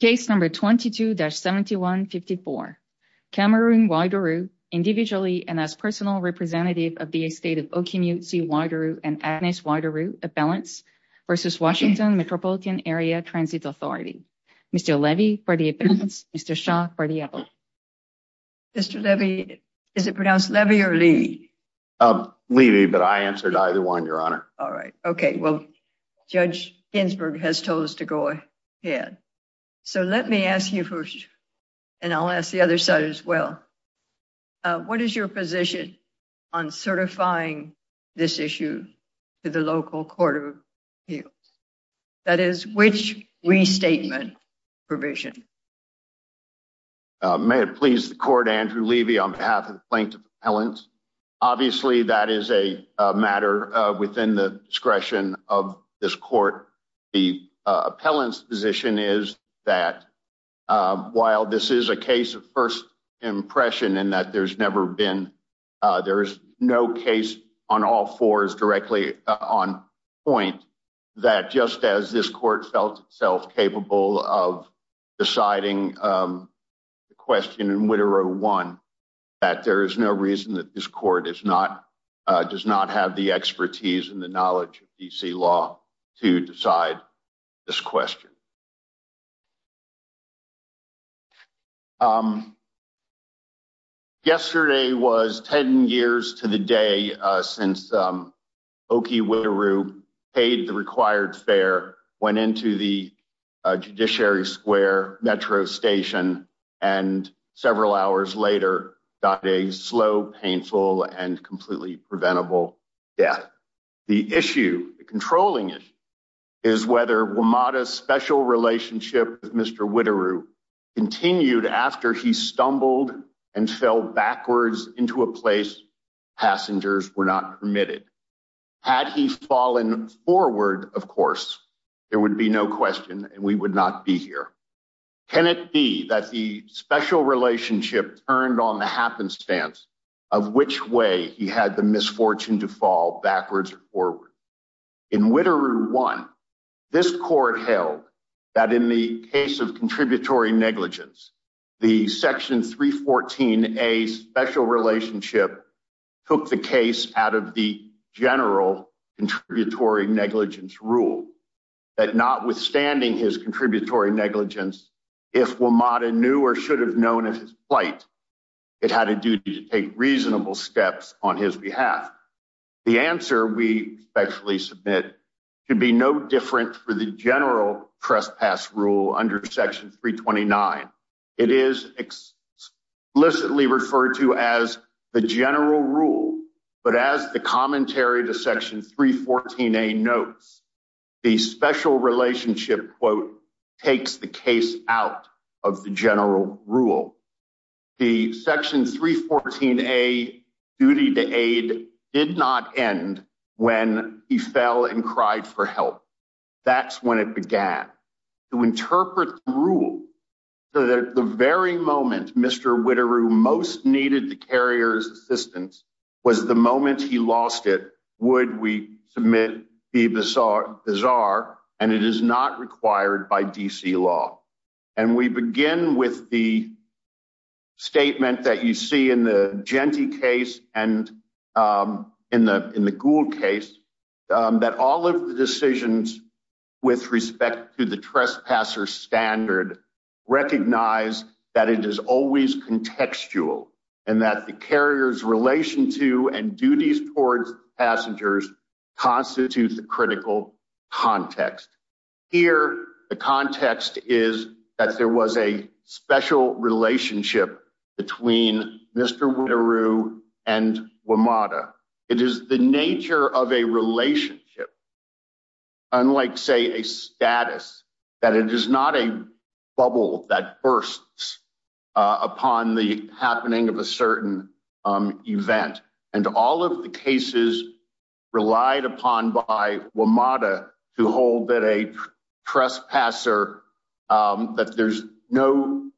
Case number 22-7154. Cameroon Whiteru, individually and as personal representative of the estate of Okimuchi Whiteru and Agnes Whiteru Appellants v. Washington Metropolitan Area Transit Authority. Mr. Levy for the appellants, Mr. Shaw for the appellants. Mr. Levy, is it pronounced Levy or Lee? Lee, but I answered either one, Your Honor. All right. Okay. Well, Judge Ginsburg has told us to go ahead. So let me ask you first, and I'll ask the other side as well. What is your position on certifying this issue to the local court of appeals? That is, which restatement provision? May it please the court, Andrew Levy, on behalf of the plaintiff's appellants. Obviously, that is a matter within the discretion of this court. The appellant's position is that while this is a case of first impression and that there's never been, there is no case on all fours directly on point, that just as this court felt itself capable of deciding the question in Whiteru 1, that there is no reason that this court is not, does not have the expertise and the knowledge of D.C. law to decide this question. Yesterday was 10 years to the day since Oki Whiteru paid the required fare, went into the Judiciary Square metro station, and several hours later, got a slow, painful and completely preventable death. The issue, the controlling issue, is whether WMATA's special relationship with Mr. Whiteru continued after he stumbled and fell backwards into a place passengers were not permitted. Had he fallen forward, of course, there would be no question and we would not be here. Can it be that the special relationship turned on the happenstance of which way he had the misfortune to fall backwards or forward? In Whiteru 1, this court held that in the case of contributory negligence, the Section 314A special relationship took the case out of the general contributory negligence rule, that notwithstanding his contributory negligence, if WMATA knew or should have known of his plight, it had a duty to take reasonable steps on his behalf. The answer we respectfully submit should be no different for the general trespass rule under Section 329. It is explicitly referred to as the general rule, but as the commentary to Section 314A notes, the special relationship, quote, takes the case out of the general rule. The Section 314A duty to aid did not end when he fell and cried for help. That's when it began. To interpret the rule, the very moment Mr. Whiteru most needed the carrier's assistance was the moment he lost it, would we submit be bizarre, and it is not required by DC law. And we begin with the statement that you see in the Gentee case and in the Gould case, that all of the decisions with respect to the trespasser standard recognize that it is always contextual, and that the carrier's relation to and duties towards passengers constitutes a critical context. Here, the context is that there was a special relationship between Mr. Whiteru and WMATA. It is the nature of a relationship, unlike, say, a status, that it is not a bubble that bursts upon the happening of a certain event. And all of the cases relied upon by WMATA to hold that a trespasser, that there's no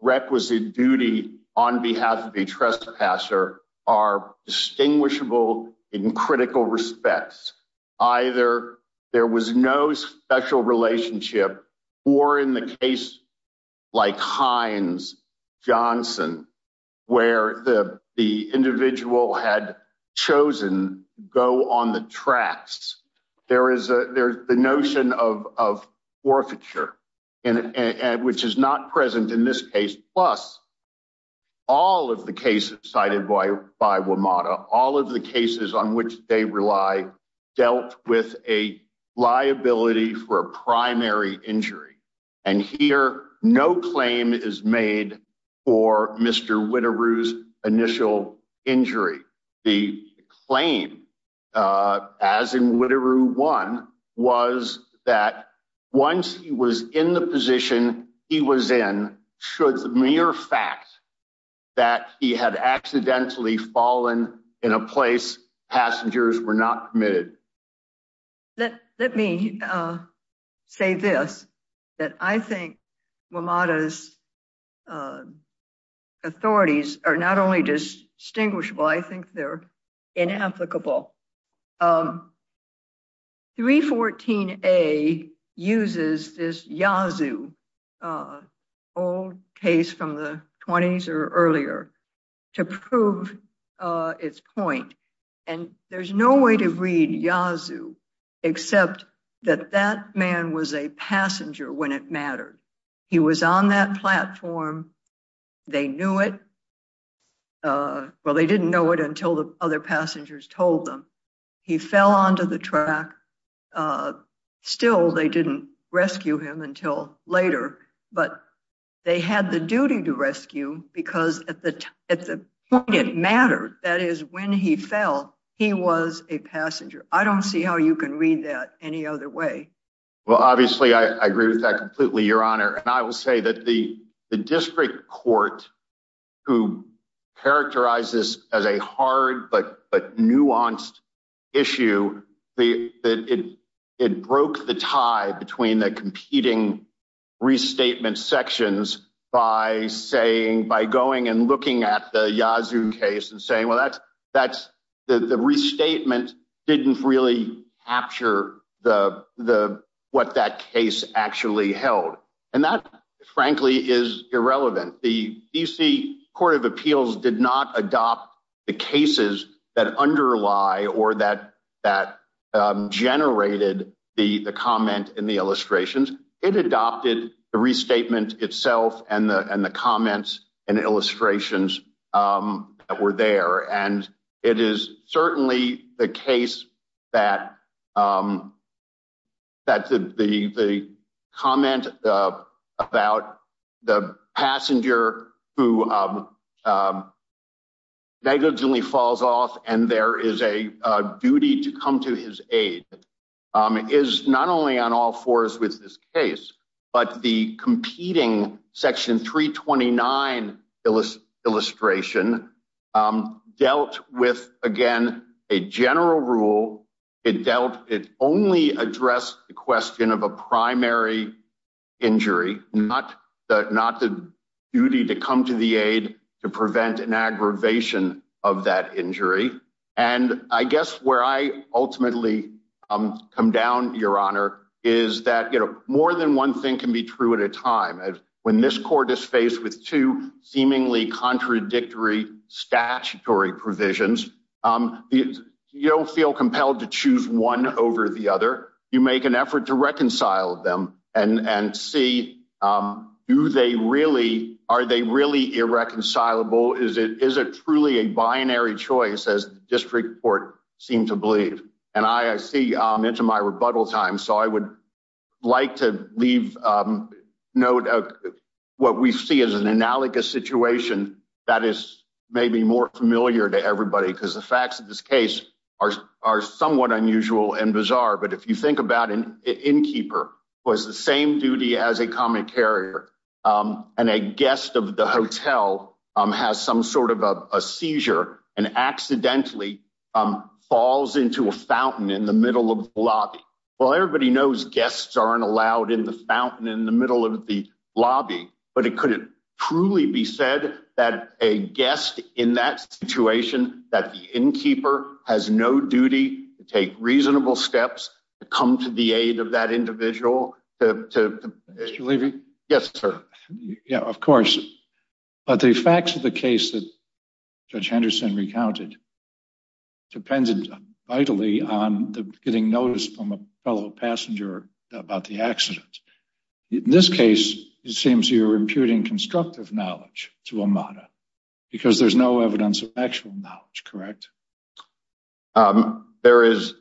requisite duty on behalf of a trespasser, are distinguishable in critical respects. Either there was no special relationship, or in the case like Hines-Johnson, where the individual had chosen to go on the tracks, there is the notion of forfeiture, which is not present in this case. Plus, all of the cases cited by WMATA, all of the cases on which they rely, dealt with a liability for a primary injury. And here, no claim is made for Mr. Whiteru's initial injury. The claim, as in Whiteru 1, was that once he was in the position he was in, should the mere fact that he had accidentally fallen in a place, passengers were not committed. Let me say this, that I think WMATA's authorities are not only distinguishable, I think they're inapplicable. 314A uses this Yazoo, old case from the 20s or earlier, to prove its point. And there's no way to read Yazoo except that that man was a passenger when it mattered. He was on that platform, they knew it, well they didn't know it until the other passengers told them. He fell onto the track, still they didn't rescue him until later, but they had the duty to rescue because at the point it mattered, that is when he fell, he was a passenger. I don't see how you can read that any other way. Well, obviously, I agree with that completely, Your Honor. And I will say that the district court, who characterized this as a hard but nuanced issue, it broke the tie between the competing restatement sections by going and looking at the Yazoo case and saying, well, the restatement didn't really capture what that case actually held. And that, frankly, is irrelevant. The D.C. Court of Appeals did not adopt the cases that underlie or that generated the comment in the illustrations. It adopted the restatement itself and the comments and illustrations that were there. And it is certainly the case that the comment about the passenger who negligently falls off and there is a duty to come to his aid, is not only on all fours with this case, but the competing Section 329 illustration dealt with, again, a general rule. It dealt it only addressed the question of a primary injury, not that not the duty to come to the aid to prevent an aggravation of that injury. And I guess where I ultimately come down, Your Honor, is that more than one thing can be true at a time. When this court is faced with two seemingly contradictory statutory provisions, you don't feel compelled to choose one over the other. You make an effort to reconcile them and see, do they really, are they really irreconcilable? Is it truly a binary choice, as the district court seemed to believe? And I see into my rebuttal time, so I would like to leave note of what we see as an analogous situation that is maybe more familiar to everybody because the facts of this case are somewhat unusual and bizarre. But if you think about an innkeeper, who has the same duty as a common carrier, and a guest of the hotel has some sort of a seizure and accidentally falls into a fountain in the middle of the lobby. Well, everybody knows guests aren't allowed in the fountain in the middle of the lobby, but it couldn't truly be said that a guest in that situation, that the innkeeper has no duty to take reasonable steps to come to the aid of that individual. Mr. Levy? Yes, sir. Yeah, of course. But the facts of the case that Judge Henderson recounted depended vitally on getting notice from a fellow passenger about the accident. In this case, it seems you're imputing constructive knowledge to Amada because there's no evidence of actual knowledge, correct? There is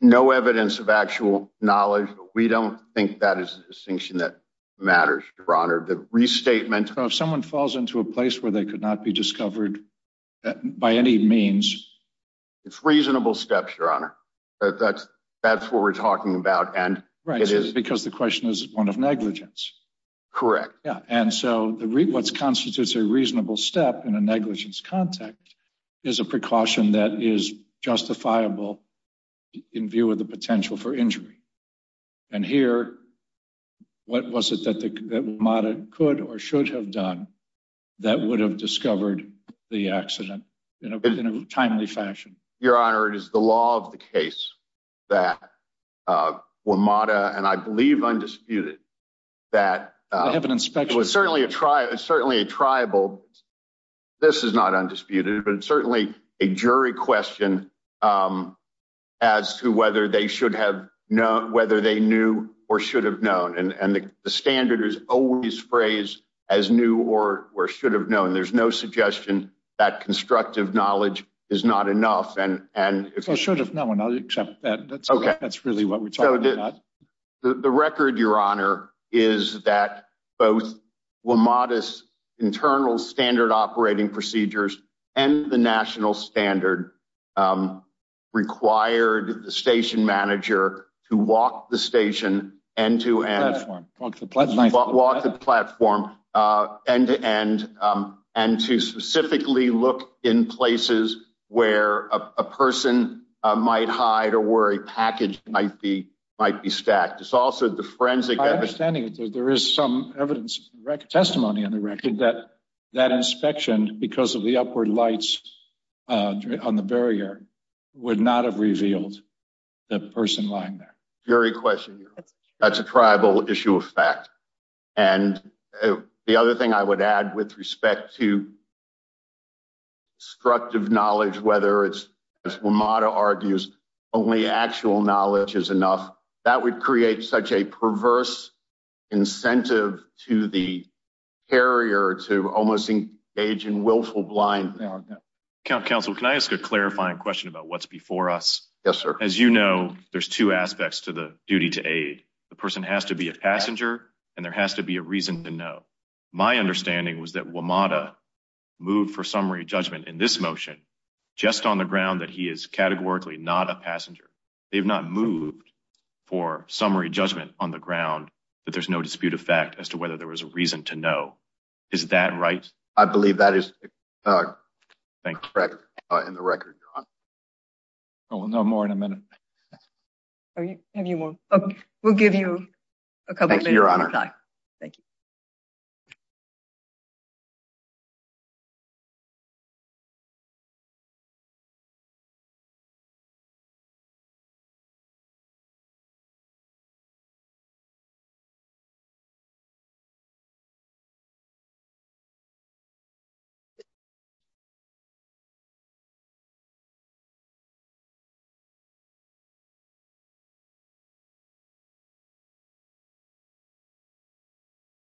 no evidence of actual knowledge. We don't think that is a distinction that matters, Your Honor. The restatement of someone falls into a place where they could not be discovered by any means. It's reasonable steps, Your Honor. That's that's what we're talking about. And it is because the question is one of negligence. Correct. And so what constitutes a reasonable step in a negligence context is a precaution that is justifiable in view of the potential for injury. And here, what was it that Amada could or should have done that would have discovered the accident in a timely fashion? Your Honor, it is the law of the case that Amada and I believe undisputed that have an inspection. It's certainly a tribe. It's certainly a tribal. This is not undisputed, but it's certainly a jury question as to whether they should have known whether they knew or should have known. And the standard is always phrased as new or should have known. There's no suggestion that constructive knowledge is not enough. And if I should have known, I'll accept that. That's really what we're talking about. The record, Your Honor, is that both Amada's internal standard operating procedures and the national standard required the station manager to walk the station and to walk the platform end to end and to specifically look in places where a person might hide or where a package might be might be stacked. My understanding is that there is some evidence, testimony on the record that that inspection, because of the upward lights on the barrier, would not have revealed the person lying there. That's a tribal issue of fact. And the other thing I would add with respect to constructive knowledge, whether it's, as Amada argues, only actual knowledge is enough, that would create such a perverse incentive to the carrier to almost engage in willful blindness. Council, can I ask a clarifying question about what's before us? Yes, sir. As you know, there's two aspects to the duty to aid. The person has to be a passenger, and there has to be a reason to know. My understanding was that Amada moved for summary judgment in this motion, just on the ground that he is categorically not a passenger. They've not moved for summary judgment on the ground that there's no dispute of fact as to whether there was a reason to know. Is that right? I believe that is correct in the record, Your Honor. We'll know more in a minute. We'll give you a couple minutes more time. Thank you,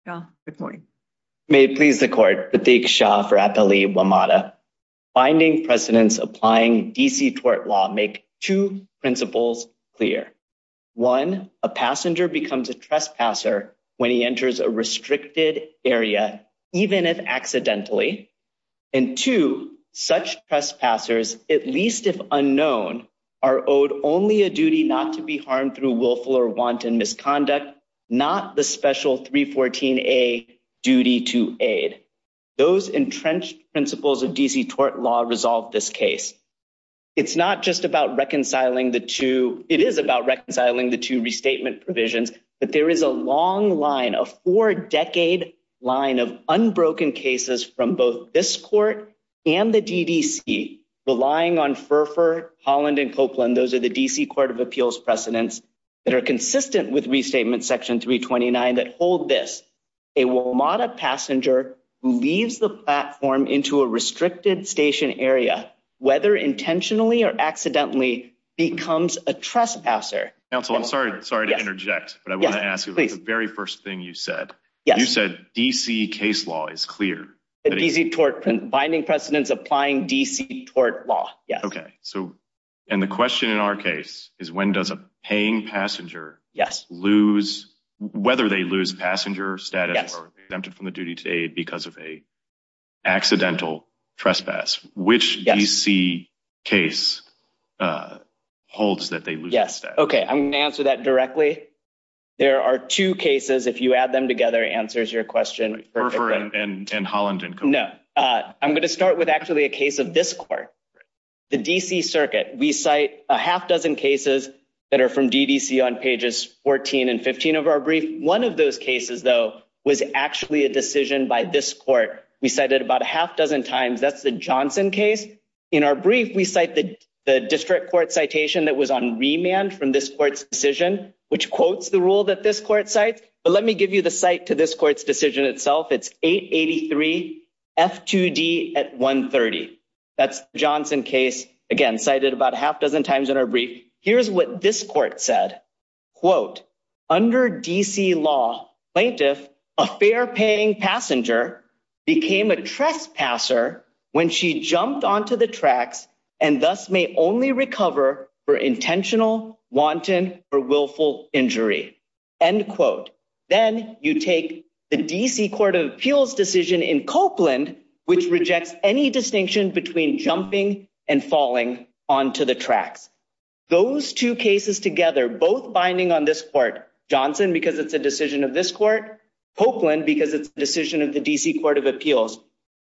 Your Honor. Good morning. May it please the court. Thank you, Your Honor. Finding precedents applying DC tort law make two principles clear. One, a passenger becomes a trespasser when he enters a restricted area, even if accidentally. And two, such trespassers, at least if unknown, are owed only a duty not to be harmed through willful or wanton misconduct, not the special 314A duty to aid. Those entrenched principles of DC tort law resolve this case. It's not just about reconciling the two. It is about reconciling the two restatement provisions. But there is a long line of four decade line of unbroken cases from both this court and the DDC relying on for Holland and Copeland. Those are the D.C. Court of Appeals precedents that are consistent with Restatement Section 329 that hold this. A WMATA passenger who leaves the platform into a restricted station area, whether intentionally or accidentally, becomes a trespasser. Counsel, I'm sorry. Sorry to interject. But I want to ask you the very first thing you said. You said D.C. case law is clear. Easy tort binding precedents applying D.C. tort law. Yes. OK. So and the question in our case is when does a paying passenger. Yes. Lose whether they lose passenger status or exempted from the duty today because of a accidental trespass. Which D.C. case holds that they. Yes. OK. I'm going to answer that directly. There are two cases. If you add them together, answers your question. And Holland and. No, I'm going to start with actually a case of this court, the D.C. circuit. We cite a half dozen cases that are from DDC on pages 14 and 15 of our brief. One of those cases, though, was actually a decision by this court. We cited about a half dozen times. That's the Johnson case. In our brief, we cite the district court citation that was on remand from this court's decision, which quotes the rule that this court sites. But let me give you the site to this court's decision itself. It's 883 F2D at 130. That's Johnson case again cited about a half dozen times in our brief. Here's what this court said, quote, Under D.C. law plaintiff, a fair paying passenger became a trespasser when she jumped onto the tracks and thus may only recover for intentional wanton or willful injury. End quote. Then you take the D.C. Court of Appeals decision in Copeland, which rejects any distinction between jumping and falling onto the tracks. Those two cases together, both binding on this court, Johnson, because it's a decision of this court, Copeland, because it's a decision of the D.C. Court of Appeals.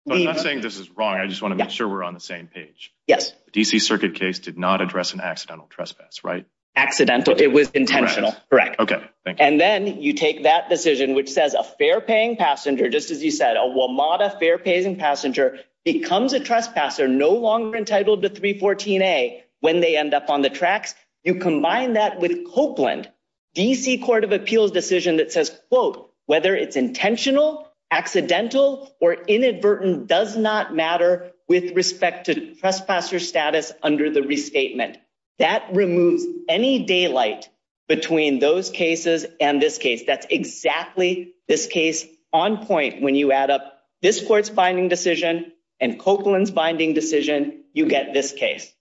I'm not saying this is wrong. I just want to make sure we're on the same page. Yes. D.C. circuit case did not address an accidental trespass, right? Accidental. It was intentional. Correct. OK. And then you take that decision, which says a fair paying passenger. Just as you said, a WMATA fair paying passenger becomes a trespasser, no longer entitled to 314 a when they end up on the tracks. You combine that with Copeland D.C. Court of Appeals decision that says, quote, Whether it's intentional, accidental or inadvertent does not matter with respect to trespasser status under the restatement. That removes any daylight between those cases and this case. That's exactly this case on point. When you add up this court's binding decision and Copeland's binding decision, you get this case.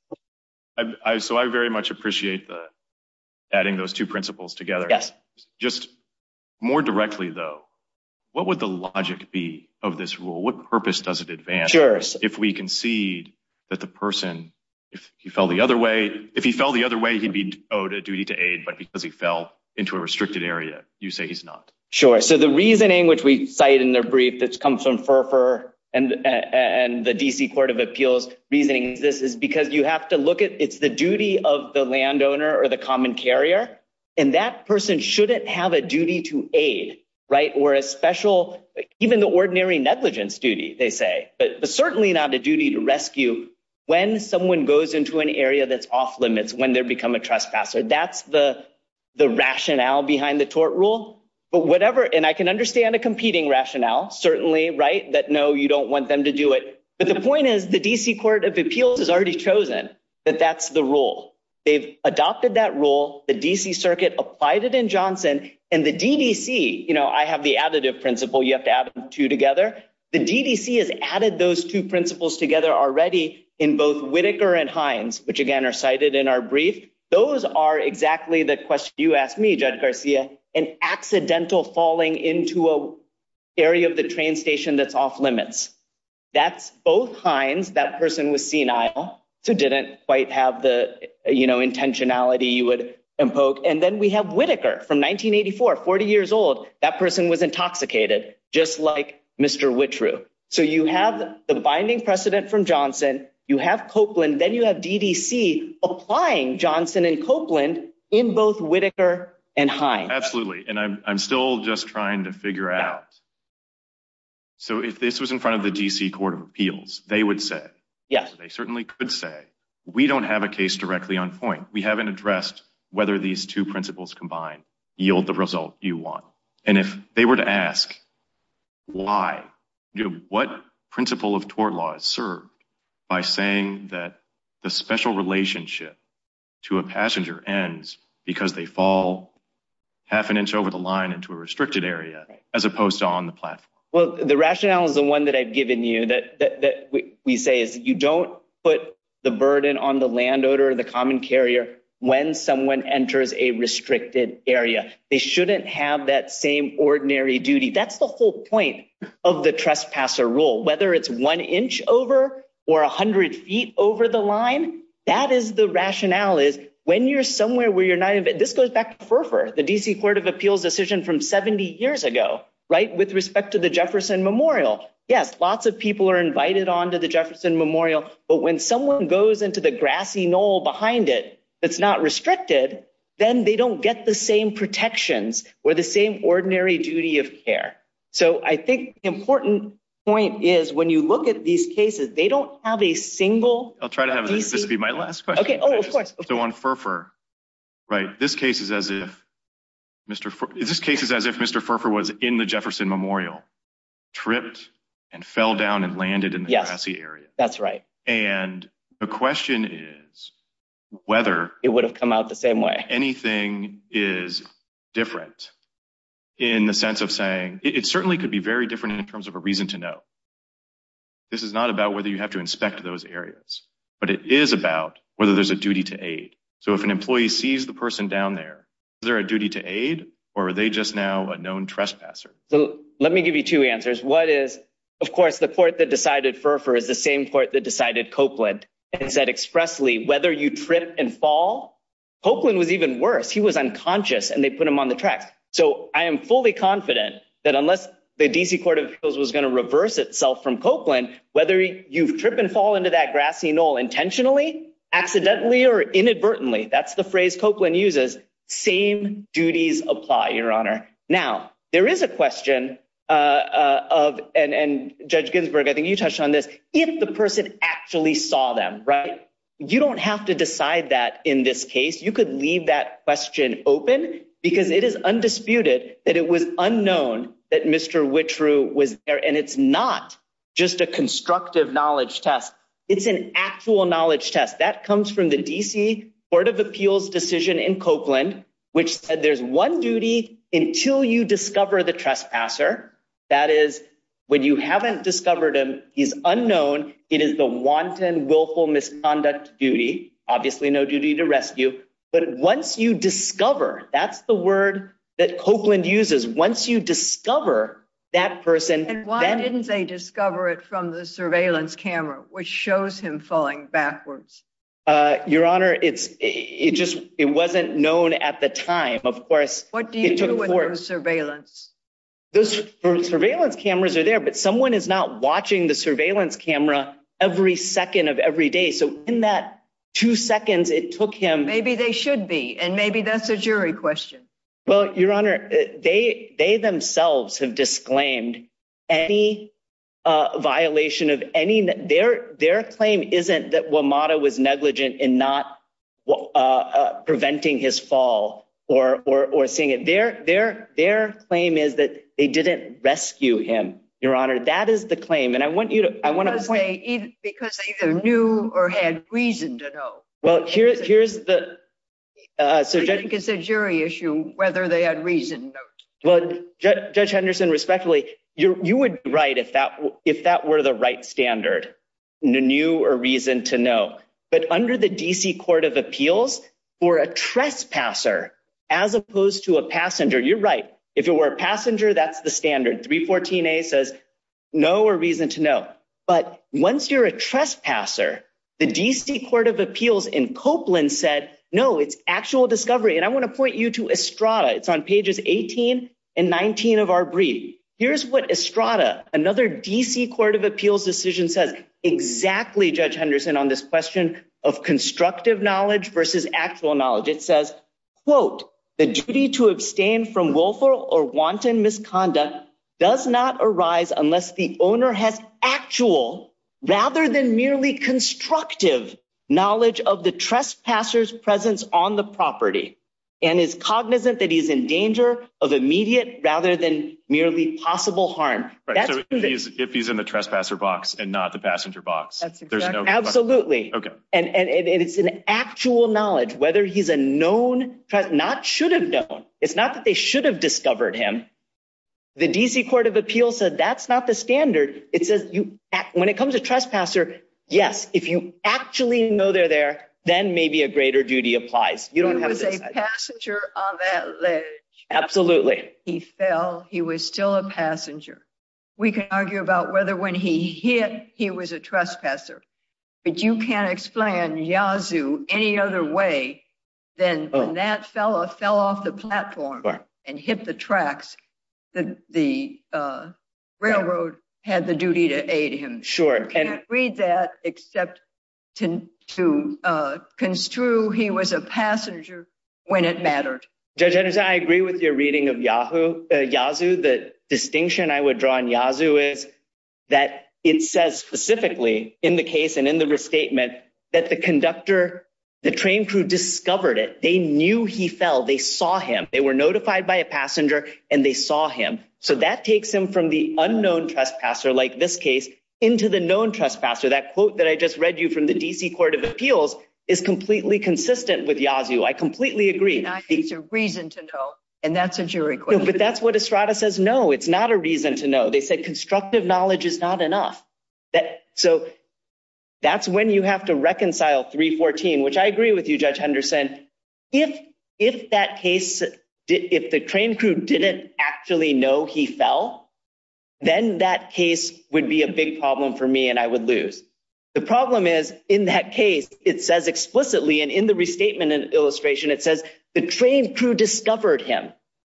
So I very much appreciate the adding those two principles together. Yes. Just more directly, though, what would the logic be of this rule? What purpose does it advance if we concede that the person, if he fell the other way, if he fell the other way, he'd be owed a duty to aid. But because he fell into a restricted area, you say he's not. Sure. So the reasoning which we cite in their brief that's come from for and the D.C. Court of Appeals reasoning, this is because you have to look at it's the duty of the landowner or the common carrier. And that person shouldn't have a duty to aid. Right. Or a special even the ordinary negligence duty, they say, but certainly not a duty to rescue when someone goes into an area that's off limits, when they become a trespasser. That's the the rationale behind the tort rule. But whatever. And I can understand a competing rationale, certainly. Right. That no, you don't want them to do it. But the point is, the D.C. Court of Appeals has already chosen that that's the rule. They've adopted that rule. The D.C. Circuit applied it in Johnson and the D.C. You know, I have the additive principle. You have to add two together. The D.C. has added those two principles together already in both Whitaker and Hines, which, again, are cited in our brief. Those are exactly the question. You asked me, Judge Garcia, an accidental falling into a area of the train station that's off limits. That's both Hines. That person was senile, so didn't quite have the intentionality you would invoke. And then we have Whitaker from 1984, 40 years old. That person was intoxicated, just like Mr. Whitroom. So you have the binding precedent from Johnson. You have Copeland. Then you have D.C. applying Johnson and Copeland in both Whitaker and Hines. Absolutely. And I'm still just trying to figure out. So if this was in front of the D.C. Court of Appeals, they would say, yes, they certainly could say we don't have a case directly on point. We haven't addressed whether these two principles combined yield the result you want. And if they were to ask why, what principle of tort law is served by saying that the special relationship to a passenger ends because they fall half an inch over the line into a restricted area, as opposed to on the platform? Well, the rationale is the one that I've given you that we say is you don't put the burden on the landowner or the common carrier when someone enters a restricted area. They shouldn't have that same ordinary duty. That's the whole point of the trespasser rule, whether it's one inch over or 100 feet over the line. That is the rationale is when you're somewhere where you're not. This goes back to the D.C. Court of Appeals decision from 70 years ago. Right. With respect to the Jefferson Memorial. Yes. Lots of people are invited on to the Jefferson Memorial. But when someone goes into the grassy knoll behind it, it's not restricted. Then they don't get the same protections or the same ordinary duty of care. So I think important point is when you look at these cases, they don't have a single. I'll try to have this be my last question. Oh, of course. So on for for right. This case is as if Mr. This case is as if Mr. For was in the Jefferson Memorial, tripped and fell down and landed in the grassy area. That's right. And the question is whether it would have come out the same way. Anything is different in the sense of saying it certainly could be very different in terms of a reason to know. This is not about whether you have to inspect those areas, but it is about whether there's a duty to aid. So if an employee sees the person down there, is there a duty to aid or are they just now a known trespasser? So let me give you two answers. What is, of course, the court that decided for is the same court that decided Copeland and said expressly whether you trip and fall. Copeland was even worse. He was unconscious and they put him on the track. So I am fully confident that unless the D.C. Court of Appeals was going to reverse itself from Copeland, whether you trip and fall into that grassy knoll intentionally, accidentally or inadvertently. That's the phrase Copeland uses. Same duties apply, Your Honor. Now, there is a question of and Judge Ginsburg, I think you touched on this. If the person actually saw them. Right. You don't have to decide that in this case. You could leave that question open because it is undisputed that it was unknown that Mr. Which was there and it's not just a constructive knowledge test. It's an actual knowledge test that comes from the D.C. Court of Appeals decision in Copeland, which said there's one duty until you discover the trespasser. That is when you haven't discovered him. He's unknown. It is the wanton, willful misconduct duty. Obviously, no duty to rescue. But once you discover that's the word that Copeland uses. Once you discover that person, why didn't they discover it from the surveillance camera, which shows him falling backwards? Your Honor, it's it just it wasn't known at the time. Of course. What do you do with those surveillance? Those surveillance cameras are there. But someone is not watching the surveillance camera every second of every day. So in that two seconds, it took him. Maybe they should be. And maybe that's a jury question. Well, Your Honor, they they themselves have disclaimed any violation of any. Their their claim isn't that WMATA was negligent in not preventing his fall or or seeing it there. Their their claim is that they didn't rescue him. Your Honor, that is the claim. And I want you to I want to say because they knew or had reason to know. Well, here's here's the jury issue, whether they had reason. Judge Henderson, respectfully, you would be right if that if that were the right standard, new or reason to know. But under the D.C. Court of Appeals or a trespasser as opposed to a passenger, you're right. If it were a passenger, that's the standard 314 says no or reason to know. But once you're a trespasser, the D.C. Court of Appeals in Copeland said, no, it's actual discovery. And I want to point you to Estrada. It's on pages 18 and 19 of our brief. Here's what Estrada, another D.C. Court of Appeals decision says exactly. Judge Henderson on this question of constructive knowledge versus actual knowledge, it says, quote, the duty to abstain from willful or wanton misconduct does not arise unless the owner has actual rather than merely constructive knowledge of the trespassers presence on the property. And is cognizant that he's in danger of immediate rather than merely possible harm. So if he's in the trespasser box and not the passenger box, there's no absolutely. And it's an actual knowledge whether he's a known threat, not should have known. It's not that they should have discovered him. The D.C. Court of Appeals said that's not the standard. It says when it comes to trespasser. Yes. If you actually know they're there, then maybe a greater duty applies. You don't have a passenger. Absolutely. He fell. He was still a passenger. We can argue about whether when he hit, he was a trespasser. But you can't explain Yazoo any other way than that fellow fell off the platform and hit the tracks. The railroad had the duty to aid him. Sure. And read that except to to construe he was a passenger when it mattered. Judge, I agree with your reading of Yahoo. Yazoo. The distinction I would draw on Yazoo is that it says specifically in the case and in the restatement that the conductor, the train crew discovered it. They knew he fell. They saw him. They were notified by a passenger and they saw him. So that takes him from the unknown trespasser like this case into the known trespasser. That quote that I just read you from the D.C. Court of Appeals is completely consistent with Yazoo. I completely agree. It's a reason to know. And that's a jury. But that's what Estrada says. No, it's not a reason to know. They said constructive knowledge is not enough. So that's when you have to reconcile 314, which I agree with you, Judge Henderson. If if that case, if the train crew didn't actually know he fell, then that case would be a big problem for me and I would lose. The problem is in that case, it says explicitly and in the restatement and illustration, it says the train crew discovered him.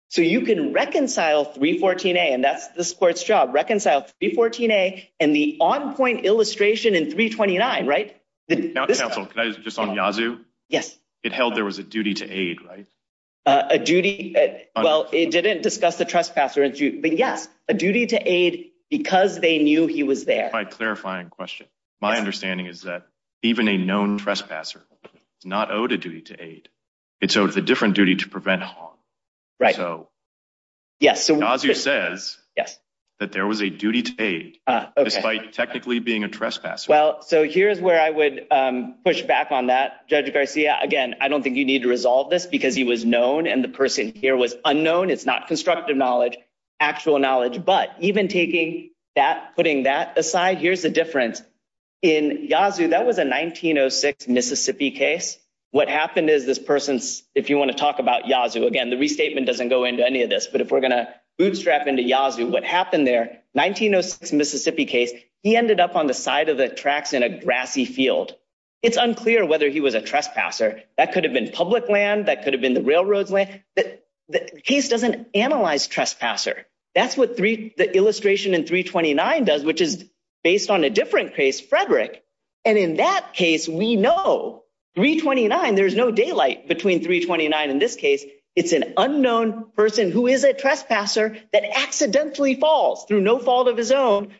So you can reconcile 314A and that's the court's job. Reconcile 314A and the on point illustration in 329, right? Now, counsel, just on Yazoo. Yes. It held there was a duty to aid, right? A duty. Well, it didn't discuss the trespasser. But yes, a duty to aid because they knew he was there. That's a quite clarifying question. My understanding is that even a known trespasser is not owed a duty to aid. It's sort of a different duty to prevent harm. Right. So. Yes. So Yazoo says, yes, that there was a duty to aid despite technically being a trespasser. Well, so here's where I would push back on that, Judge Garcia. Again, I don't think you need to resolve this because he was known and the person here was unknown. It's not constructive knowledge, actual knowledge. But even taking that, putting that aside, here's the difference in Yazoo. That was a 1906 Mississippi case. What happened is this person's if you want to talk about Yazoo again, the restatement doesn't go into any of this. But if we're going to bootstrap into Yazoo, what happened there, 1906 Mississippi case, he ended up on the side of the tracks in a grassy field. It's unclear whether he was a trespasser. That could have been public land. That could have been the railroads. But the case doesn't analyze trespasser. That's what the illustration in 329 does, which is based on a different case, Frederick. And in that case, we know 329. There's no daylight between 329. In this case, it's an unknown person who is a trespasser that accidentally falls through no fault of his own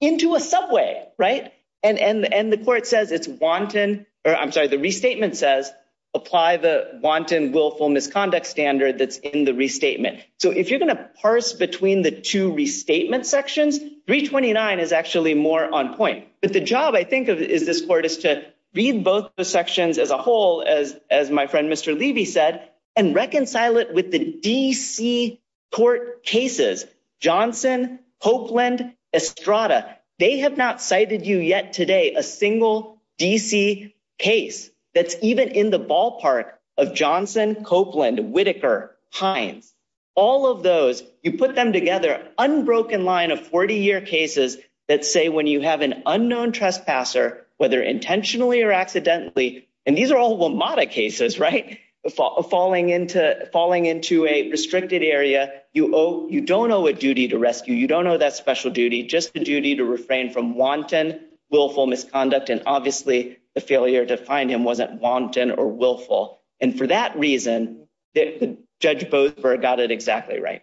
into a subway. Right. And the court says it's wanton or I'm sorry, the restatement says apply the wanton willful misconduct standard that's in the restatement. So if you're going to parse between the two restatement sections, 329 is actually more on point. But the job, I think, is this court is to read both the sections as a whole, as as my friend, Mr. Levy said, and reconcile it with the D.C. court cases. Johnson, Copeland, Estrada, they have not cited you yet today. A single D.C. case that's even in the ballpark of Johnson, Copeland, Whitaker, Hines, all of those. You put them together. Unbroken line of 40 year cases that say when you have an unknown trespasser, whether intentionally or accidentally. And these are all WMATA cases. Right. Falling into falling into a restricted area. You owe you don't owe a duty to rescue. You don't owe that special duty. Just the duty to refrain from wanton willful misconduct. And obviously the failure to find him wasn't wanton or willful. And for that reason, the judge both got it exactly right.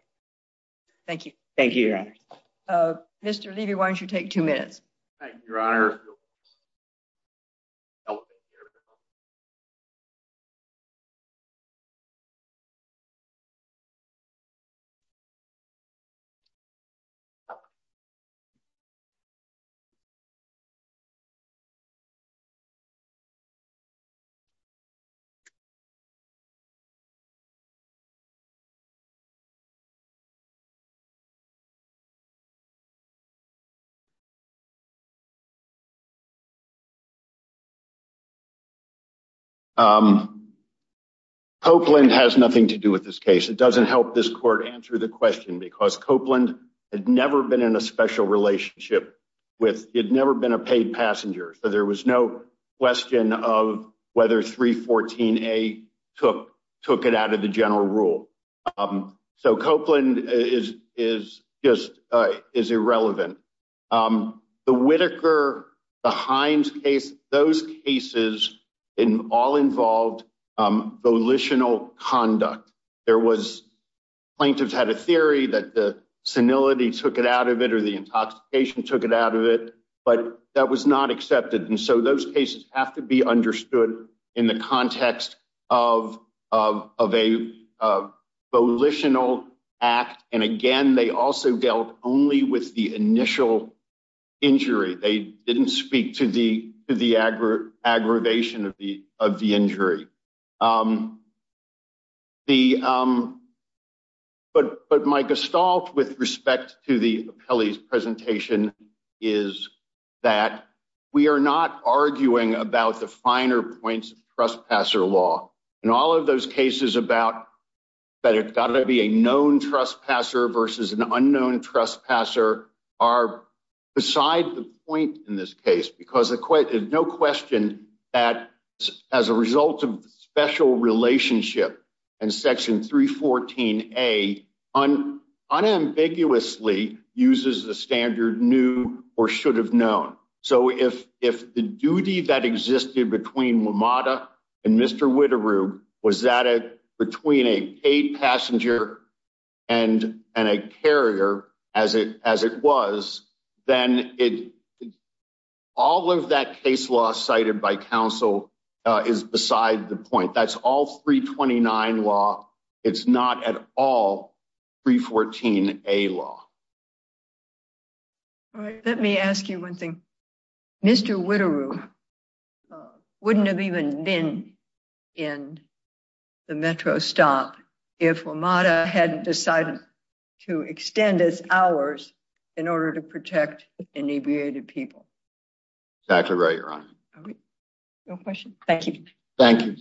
Thank you. Thank you. Mr. Levy, why don't you take two minutes? Thank you, Your Honor. Copeland has nothing to do with this case. It doesn't help this court answer the question because Copeland had never been in a special relationship with it, never been a paid passenger. So there was no question of whether 314 a took took it out of the general rule. So Copeland is is just is irrelevant. The Whitaker, the Hines case, those cases in all involved volitional conduct. There was plaintiffs had a theory that the senility took it out of it or the intoxication took it out of it. But that was not accepted. And so those cases have to be understood in the context of of of a volitional act. And again, they also dealt only with the initial injury. They didn't speak to the to the aggravation of the of the injury. The. But but my gestalt with respect to the Kelly's presentation is that we are not arguing about the finer points of trespasser law. And all of those cases about that have got to be a known trespasser versus an unknown trespasser are beside the point in this case. Because there's no question that as a result of the special relationship and section 314 a on unambiguously uses the standard new or should have known. So if if the duty that existed between Mamata and Mr. Whittier was that between a paid passenger and and a carrier as it as it was, then it all of that case law cited by counsel is beside the point. That's all three twenty nine law. It's not at all three fourteen a law. All right. Let me ask you one thing. Mr. Whittier wouldn't have even been in the metro stop if Mamata hadn't decided to extend his hours in order to protect the people. That's right. Your honor. No question. Thank you. Thank you.